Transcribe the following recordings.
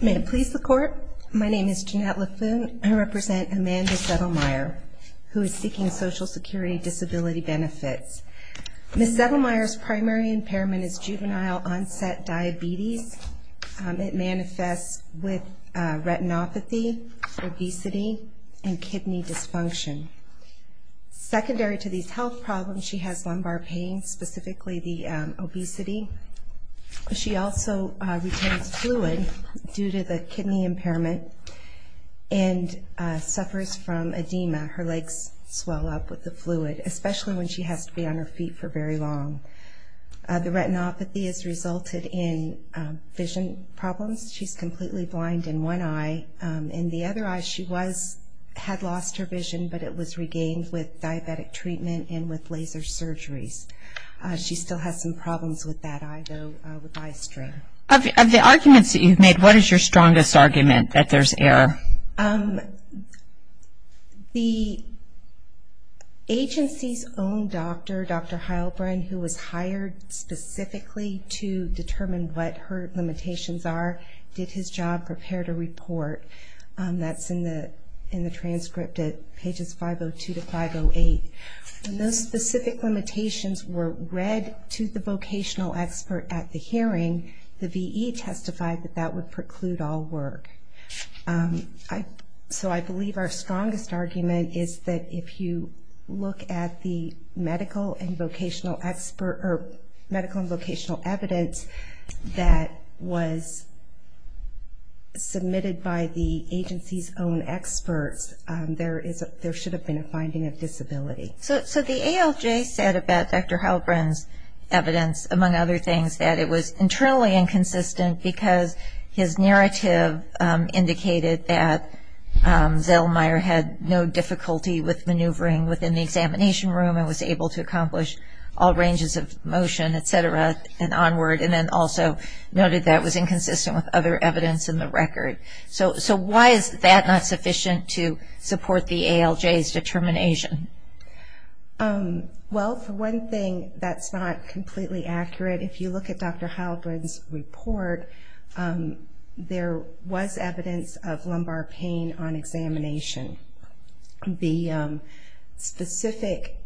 May it please the court, my name is Jeanette Laffoon. I represent Amanda Zettelmier, who is seeking Social Security Disability Benefits. Ms. Zettelmier's primary impairment is juvenile onset diabetes. It manifests with retinopathy, obesity, and kidney dysfunction. Secondary to these health problems, she has lumbar pain, specifically the obesity. She also retains fluid due to the kidney impairment, and suffers from edema. Her legs swell up with the fluid, especially when she has to be on her feet for very long. The retinopathy has resulted in vision problems. She's completely blind in one eye. In the other eye, she had lost her vision, but it was regained with diabetic treatment and with laser surgeries. She still has some problems with that eye, though, with eye strain. Of the arguments that you've made, what is your strongest argument, that there's error? The agency's own doctor, Dr. Heilbrunn, who was hired specifically to determine what her limitations are, did his job, prepared a report. That's in the transcript at pages 502 to 508. When those specific limitations were read to the vocational expert at the hearing, the V.E. testified that that would preclude all work. So I believe our strongest argument is that if you look at the medical and vocational evidence that was submitted by the agency's own experts, there should have been a finding of disability. So the ALJ said about Dr. Heilbrunn's evidence, among other things, that it was internally inconsistent because his narrative indicated that Zellmeyer had no difficulty with maneuvering within the examination room and was able to accomplish all ranges of motion, et cetera, and onward, and then also noted that it was inconsistent with other evidence in the record. So why is that not sufficient to support the ALJ's determination? Well, for one thing, that's not completely accurate. If you look at Dr. Heilbrunn's report, there was evidence of lumbar pain on examination. The specific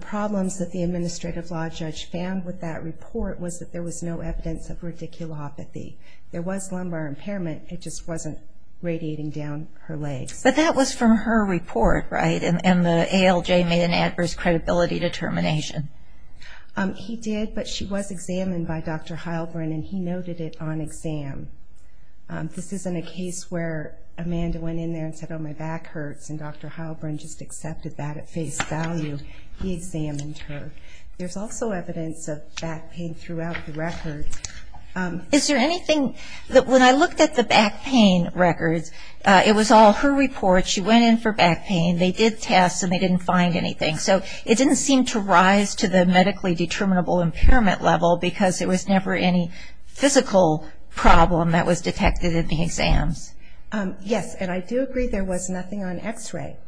problems that the administrative law judge found with that report was that there was no evidence of radiculopathy. There was lumbar impairment, it just wasn't radiating down her legs. But that was from her report, right? And the ALJ made an adverse credibility determination. He did, but she was examined by Dr. Heilbrunn, and he noted it on exam. This isn't a case where Amanda went in there and said, oh, my back hurts, and Dr. Heilbrunn just accepted that at face value. He examined her. There's also evidence of back pain throughout the record. Is there anything that when I looked at the back pain records, it was all her report, she went in for back pain, they did tests, and they didn't find anything. So it didn't seem to rise to the medically determinable impairment level, because there was never any physical problem that was detected in the exams. Yes, and I do agree there was nothing on x-ray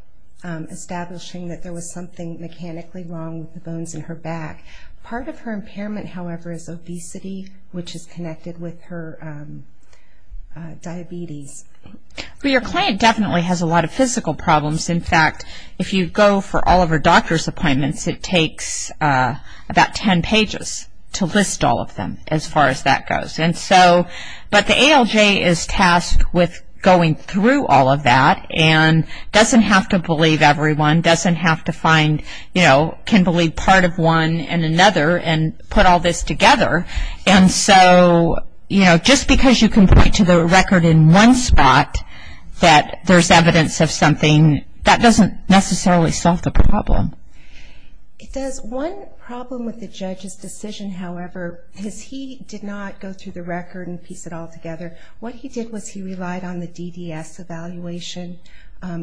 establishing that there was something mechanically wrong with the bones in her back. Part of her impairment, however, is obesity, which is connected with her diabetes. Well, your client definitely has a lot of physical problems. In fact, if you go for all of her doctor's appointments, it takes about 10 pages to list all of them, as far as that goes. And so, but the ALJ is tasked with going through all of that and doesn't have to believe everyone, doesn't have to find, you know, can believe part of one and another and put all this together. And so, you know, just because you can point to the record in one spot that there's evidence of something, that doesn't necessarily solve the problem. It does. One problem with the judge's decision, however, is he did not go through the record and piece it all together. What he did was he relied on the DDS evaluation.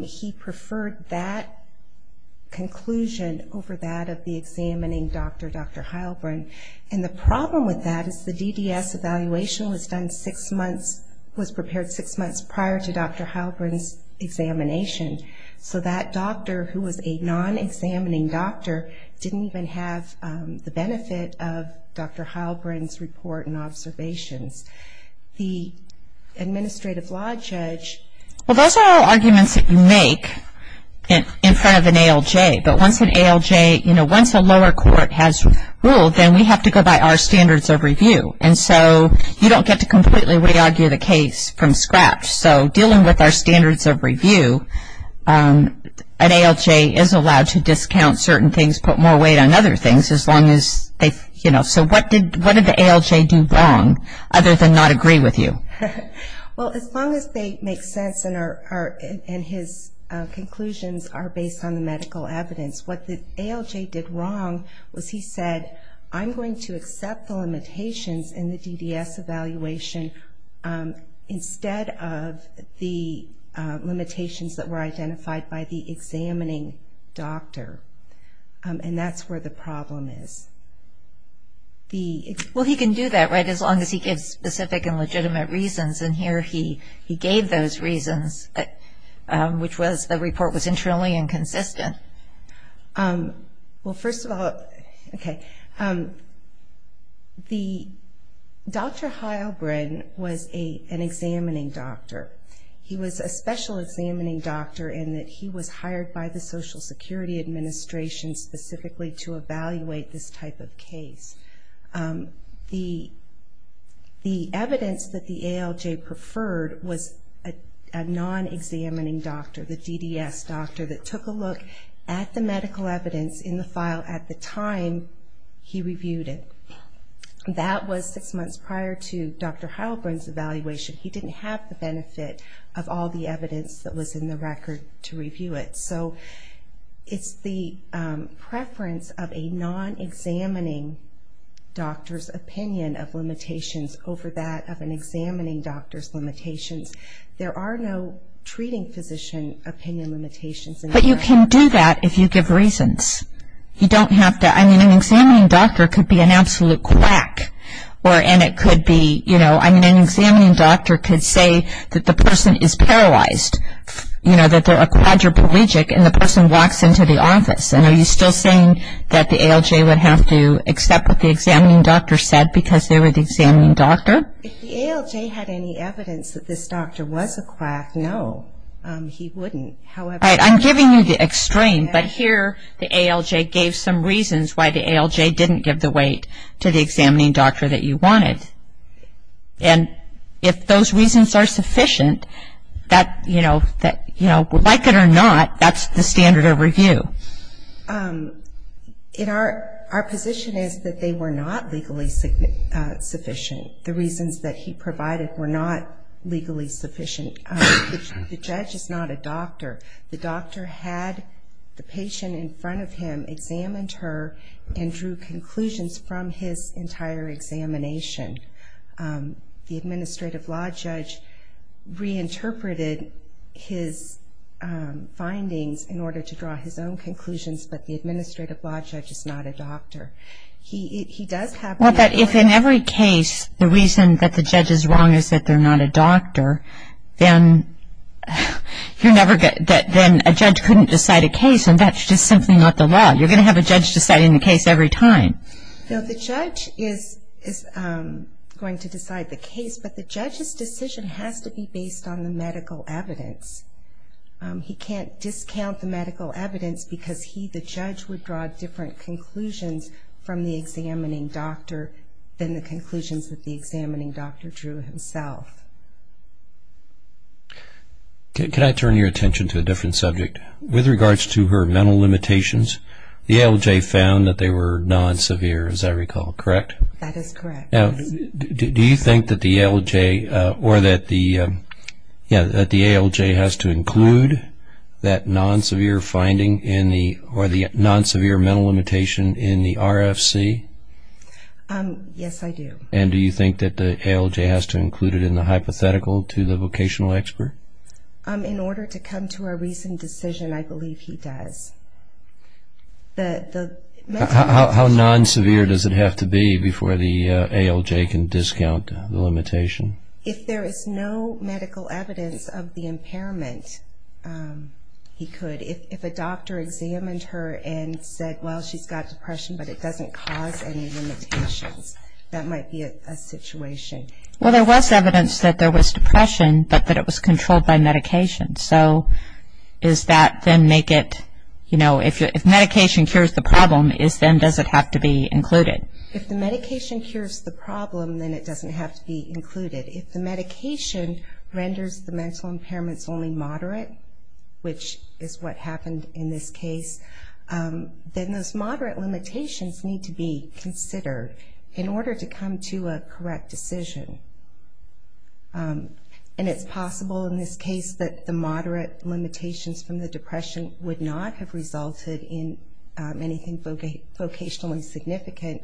He preferred that conclusion over that of the examining doctor, Dr. Heilbrunn. And the problem with that is the DDS evaluation was done six months, was prepared six months prior to Dr. Heilbrunn's examination. So that doctor, who was a non-examining doctor, didn't even have the benefit of Dr. Heilbrunn's report and observations. The administrative law judge. Well, those are all arguments that you make in front of an ALJ. But once an ALJ, you know, once a lower court has ruled, then we have to go by our standards of review. And so you don't get to completely re-argue the case from scratch. So dealing with our standards of review, an ALJ is allowed to discount certain things, put more weight on other things as long as they, you know. So what did the ALJ do wrong other than not agree with you? Well, as long as they make sense and his conclusions are based on the medical evidence, what the ALJ did wrong was he said, I'm going to accept the limitations in the DDS evaluation instead of the limitations that were identified by the examining doctor. And that's where the problem is. Well, he can do that, right, as long as he gives specific and legitimate reasons. And here he gave those reasons, which was the report was internally inconsistent. Well, first of all, okay, Dr. Heilbrunn was an examining doctor. He was a special examining doctor in that he was hired by the Social Security Administration specifically to evaluate this type of case. The evidence that the ALJ preferred was a non-examining doctor, the DDS doctor, that took a look at the medical evidence in the file at the time he reviewed it. That was six months prior to Dr. Heilbrunn's evaluation. He didn't have the benefit of all the evidence that was in the record to review it. So it's the preference of a non-examining doctor's opinion of limitations over that of an examining doctor's limitations. There are no treating physician opinion limitations. But you can do that if you give reasons. You don't have to. I mean, an examining doctor could be an absolute quack. And it could be, you know, I mean, an examining doctor could say that the person is paralyzed, you know, that they're a quadriplegic, and the person walks into the office. And are you still saying that the ALJ would have to accept what the examining doctor said because they were the examining doctor? If the ALJ had any evidence that this doctor was a quack, no, he wouldn't. All right, I'm giving you the extreme. But here the ALJ gave some reasons why the ALJ didn't give the weight to the examining doctor that you wanted. And if those reasons are sufficient, that, you know, like it or not, that's the standard of review. Our position is that they were not legally sufficient. The reasons that he provided were not legally sufficient. The judge is not a doctor. The doctor had the patient in front of him, examined her, and drew conclusions from his entire examination. The administrative law judge reinterpreted his findings in order to draw his own conclusions, but the administrative law judge is not a doctor. He does have the authority. Well, but if in every case the reason that the judge is wrong is that they're not a doctor, then a judge couldn't decide a case, and that's just simply not the law. You're going to have a judge deciding the case every time. No, the judge is going to decide the case, but the judge's decision has to be based on the medical evidence. He can't discount the medical evidence because he, the judge, would draw different conclusions from the examining doctor than the conclusions that the examining doctor drew himself. Can I turn your attention to a different subject? With regards to her mental limitations, the ALJ found that they were non-severe, as I recall, correct? That is correct. Do you think that the ALJ has to include that non-severe finding or the non-severe mental limitation in the RFC? Yes, I do. And do you think that the ALJ has to include it in the hypothetical to the vocational expert? In order to come to a reasoned decision, I believe he does. How non-severe does it have to be before the ALJ can discount the limitation? If there is no medical evidence of the impairment, he could. If a doctor examined her and said, well, she's got depression, but it doesn't cause any limitations, that might be a situation. Well, there was evidence that there was depression, but that it was controlled by medication. So is that then make it, you know, if medication cures the problem, then does it have to be included? If the medication cures the problem, then it doesn't have to be included. If the medication renders the mental impairments only moderate, which is what happened in this case, then those moderate limitations need to be considered in order to come to a correct decision. And it's possible in this case that the moderate limitations from the depression would not have resulted in anything vocationally significant,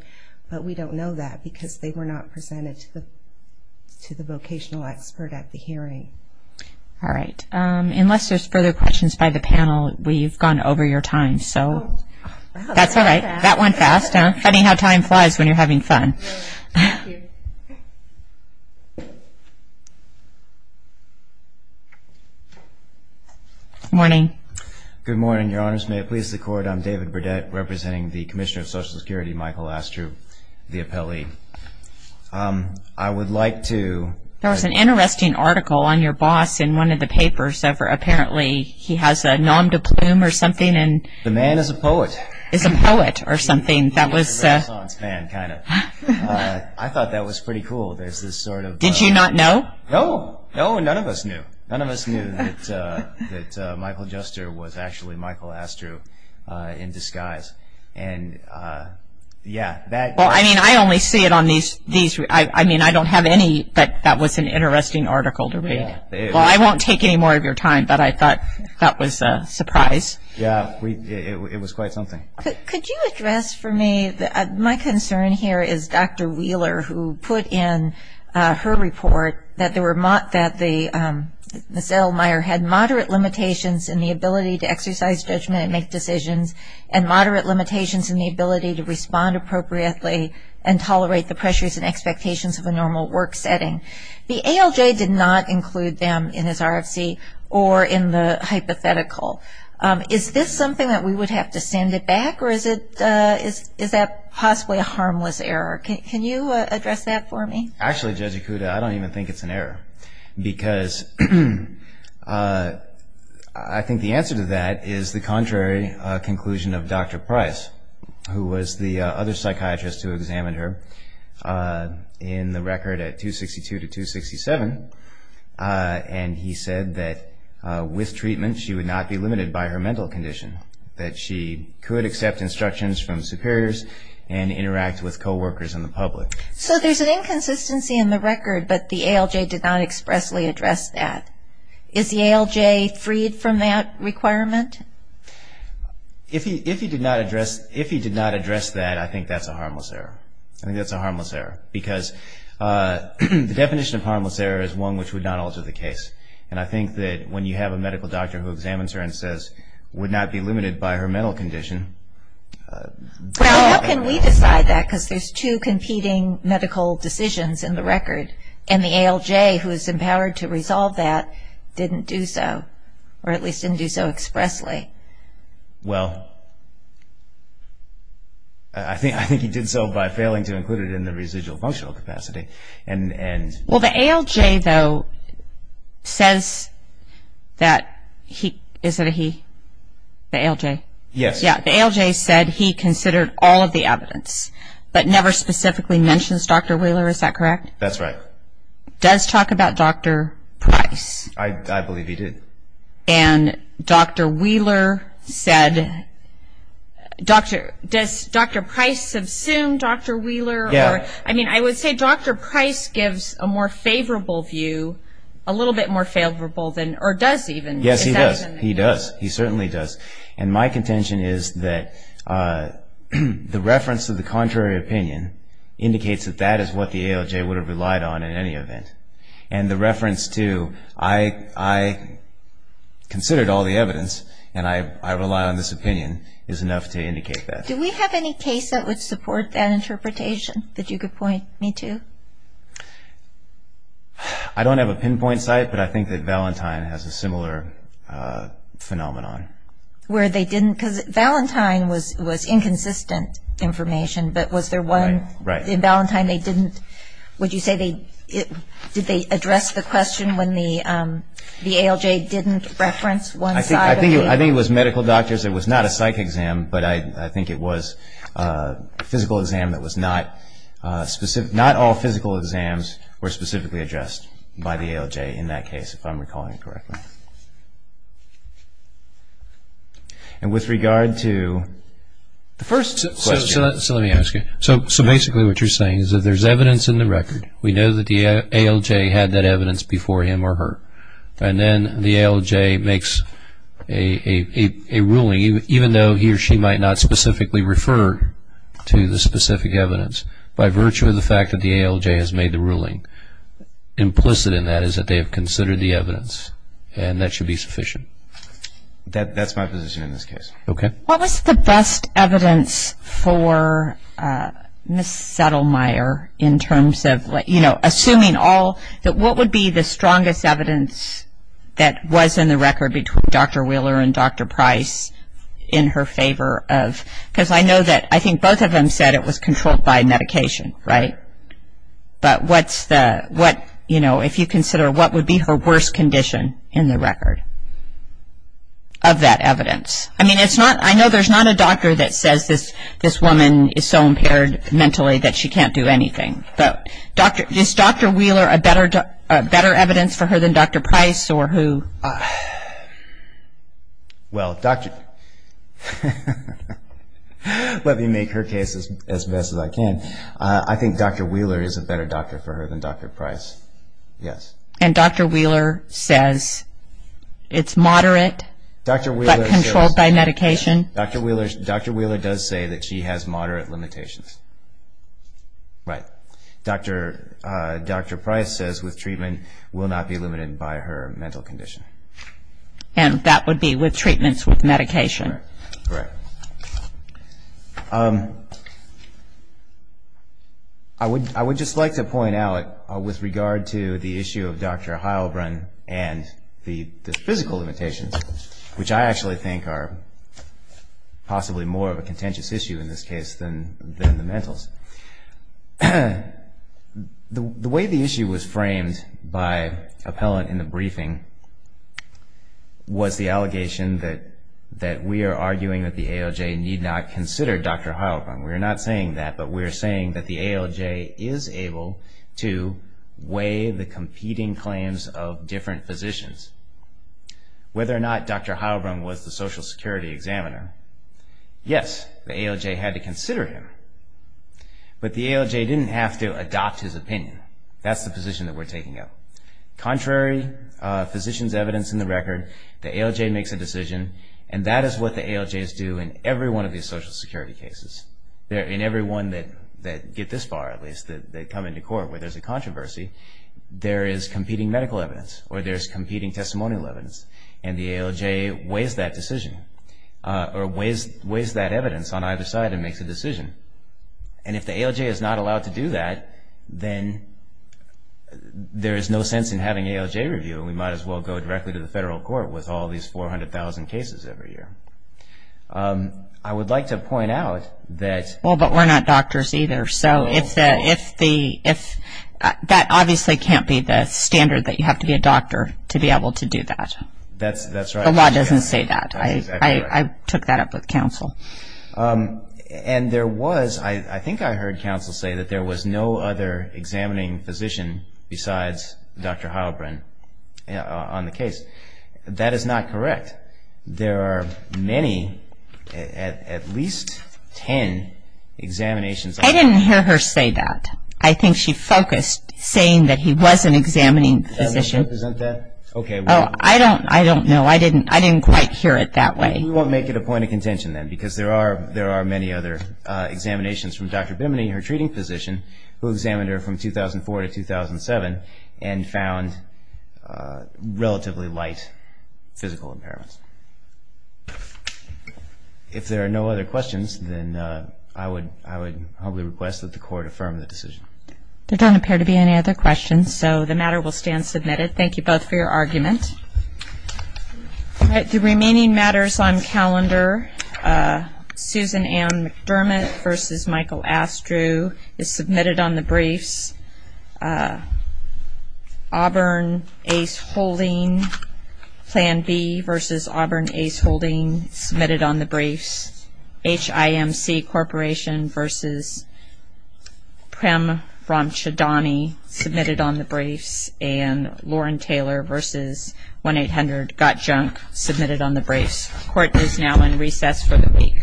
but we don't know that because they were not presented to the vocational expert at the hearing. All right. Unless there's further questions by the panel, we've gone over your time, so that's all right. That went fast, huh? Funny how time flies when you're having fun. Thank you. Good morning. Good morning, Your Honors. May it please the Court, I'm David Burdett, representing the Commissioner of Social Security, Michael Astru, the appellee. I would like to- There was an interesting article on your boss in one of the papers, apparently he has a nom de plume or something. The man is a poet. Is a poet or something. He's a Renaissance fan, kind of. I thought that was pretty cool. There's this sort of- Did you not know? No. No, none of us knew. None of us knew that Michael Jester was actually Michael Astru in disguise. And, yeah, that- Well, I mean, I only see it on these- I mean, I don't have any, but that was an interesting article to read. Well, I won't take any more of your time, but I thought that was a surprise. Yeah, it was quite something. Could you address for me, my concern here is Dr. Wheeler, who put in her report that there were- that Ms. Elmire had moderate limitations in the ability to exercise judgment and make decisions and moderate limitations in the ability to respond appropriately and tolerate the pressures and expectations of a normal work setting. The ALJ did not include them in his RFC or in the hypothetical. Is this something that we would have to send it back, or is that possibly a harmless error? Can you address that for me? Actually, Judge Ikuda, I don't even think it's an error, because I think the answer to that is the contrary conclusion of Dr. Price, who was the other psychiatrist who examined her in the record at 262 to 267, and he said that with treatment she would not be limited by her mental condition, that she could accept instructions from superiors and interact with coworkers in the public. So there's an inconsistency in the record, but the ALJ did not expressly address that. Is the ALJ freed from that requirement? If he did not address that, I think that's a harmless error. I think that's a harmless error, because the definition of harmless error is one which would not alter the case, and I think that when you have a medical doctor who examines her and says, would not be limited by her mental condition. Well, how can we decide that, because there's two competing medical decisions in the record, and the ALJ, who is empowered to resolve that, didn't do so, or at least didn't do so expressly. Well, I think he did so by failing to include it in the residual functional capacity. Well, the ALJ, though, says that he considered all of the evidence, but never specifically mentions Dr. Wheeler, is that correct? That's right. It does talk about Dr. Price. I believe he did. And Dr. Wheeler said, does Dr. Price assume Dr. Wheeler? Yeah. I mean, I would say Dr. Price gives a more favorable view, a little bit more favorable than, or does even. Yes, he does. He does. He certainly does. And my contention is that the reference to the contrary opinion indicates that that is what the ALJ would have relied on in any event. And the reference to, I considered all the evidence, and I rely on this opinion, is enough to indicate that. Do we have any case that would support that interpretation that you could point me to? I don't have a pinpoint site, but I think that Valentine has a similar phenomenon. Where they didn't, because Valentine was inconsistent information, but was there one? Right. In Valentine they didn't, would you say they, did they address the question when the ALJ didn't reference one side? I think it was medical doctors, it was not a psych exam, but I think it was a physical exam that was not specific, not all physical exams were specifically addressed by the ALJ in that case, if I'm recalling it correctly. And with regard to the first question. So let me ask you. So basically what you're saying is that there's evidence in the record, we know that the ALJ had that evidence before him or her, and then the ALJ makes a ruling even though he or she might not specifically refer to the specific evidence, by virtue of the fact that the ALJ has made the ruling. Implicit in that is that they have considered the evidence, and that should be sufficient. That's my position in this case. Okay. What was the best evidence for Ms. Settlemyer in terms of, you know, assuming all, that what would be the strongest evidence that was in the record between Dr. Wheeler and Dr. Price in her favor of, because I know that I think both of them said it was controlled by medication, right? But what's the, what, you know, if you consider what would be her worst condition in the record of that evidence? Yes. I mean, it's not, I know there's not a doctor that says this woman is so impaired mentally that she can't do anything. But Dr., is Dr. Wheeler a better evidence for her than Dr. Price or who? Well, Dr., let me make her case as best as I can. I think Dr. Wheeler is a better doctor for her than Dr. Price, yes. And Dr. Wheeler says it's moderate but controlled by medication? Dr. Wheeler does say that she has moderate limitations. Right. Dr. Price says with treatment will not be limited by her mental condition. And that would be with treatments with medication. Correct. All right. I would just like to point out with regard to the issue of Dr. Heilbrunn and the physical limitations, which I actually think are possibly more of a contentious issue in this case than the mentals. The way the issue was framed by appellant in the briefing was the allegation that we are arguing that the ALJ need not consider Dr. Heilbrunn. We're not saying that, but we're saying that the ALJ is able to weigh the competing claims of different physicians. Whether or not Dr. Heilbrunn was the social security examiner, yes, the ALJ had to consider him. But the ALJ didn't have to adopt his opinion. That's the position that we're taking up. Contrary physicians' evidence in the record, the ALJ makes a decision, and that is what the ALJs do in every one of these social security cases. In every one that get this far, at least, that come into court where there's a controversy, there is competing medical evidence or there's competing testimonial evidence, and the ALJ weighs that decision or weighs that evidence on either side and makes a decision. And if the ALJ is not allowed to do that, then there is no sense in having ALJ review, and we might as well go directly to the federal court with all these 400,000 cases every year. I would like to point out that- The law doesn't say that. I took that up with counsel. And there was, I think I heard counsel say, that there was no other examining physician besides Dr. Heilbrunn on the case. That is not correct. There are many, at least 10 examinations- I didn't hear her say that. I think she focused saying that he was an examining physician. Oh, I don't know. I didn't quite hear it that way. We won't make it a point of contention, then, because there are many other examinations from Dr. Bimini, her treating physician, who examined her from 2004 to 2007 and found relatively light physical impairments. If there are no other questions, then I would humbly request that the court affirm the decision. There don't appear to be any other questions, so the matter will stand submitted. Thank you both for your argument. The remaining matters on calendar. Susan M. McDermott v. Michael Astrew is submitted on the briefs. Auburn Ace Holding, Plan B v. Auburn Ace Holding, submitted on the briefs. HIMC Corporation v. Prem Ramchandani, submitted on the briefs. And Lauren Taylor v. 1-800-GOT-JUNK, submitted on the briefs. Court is now in recess for the week.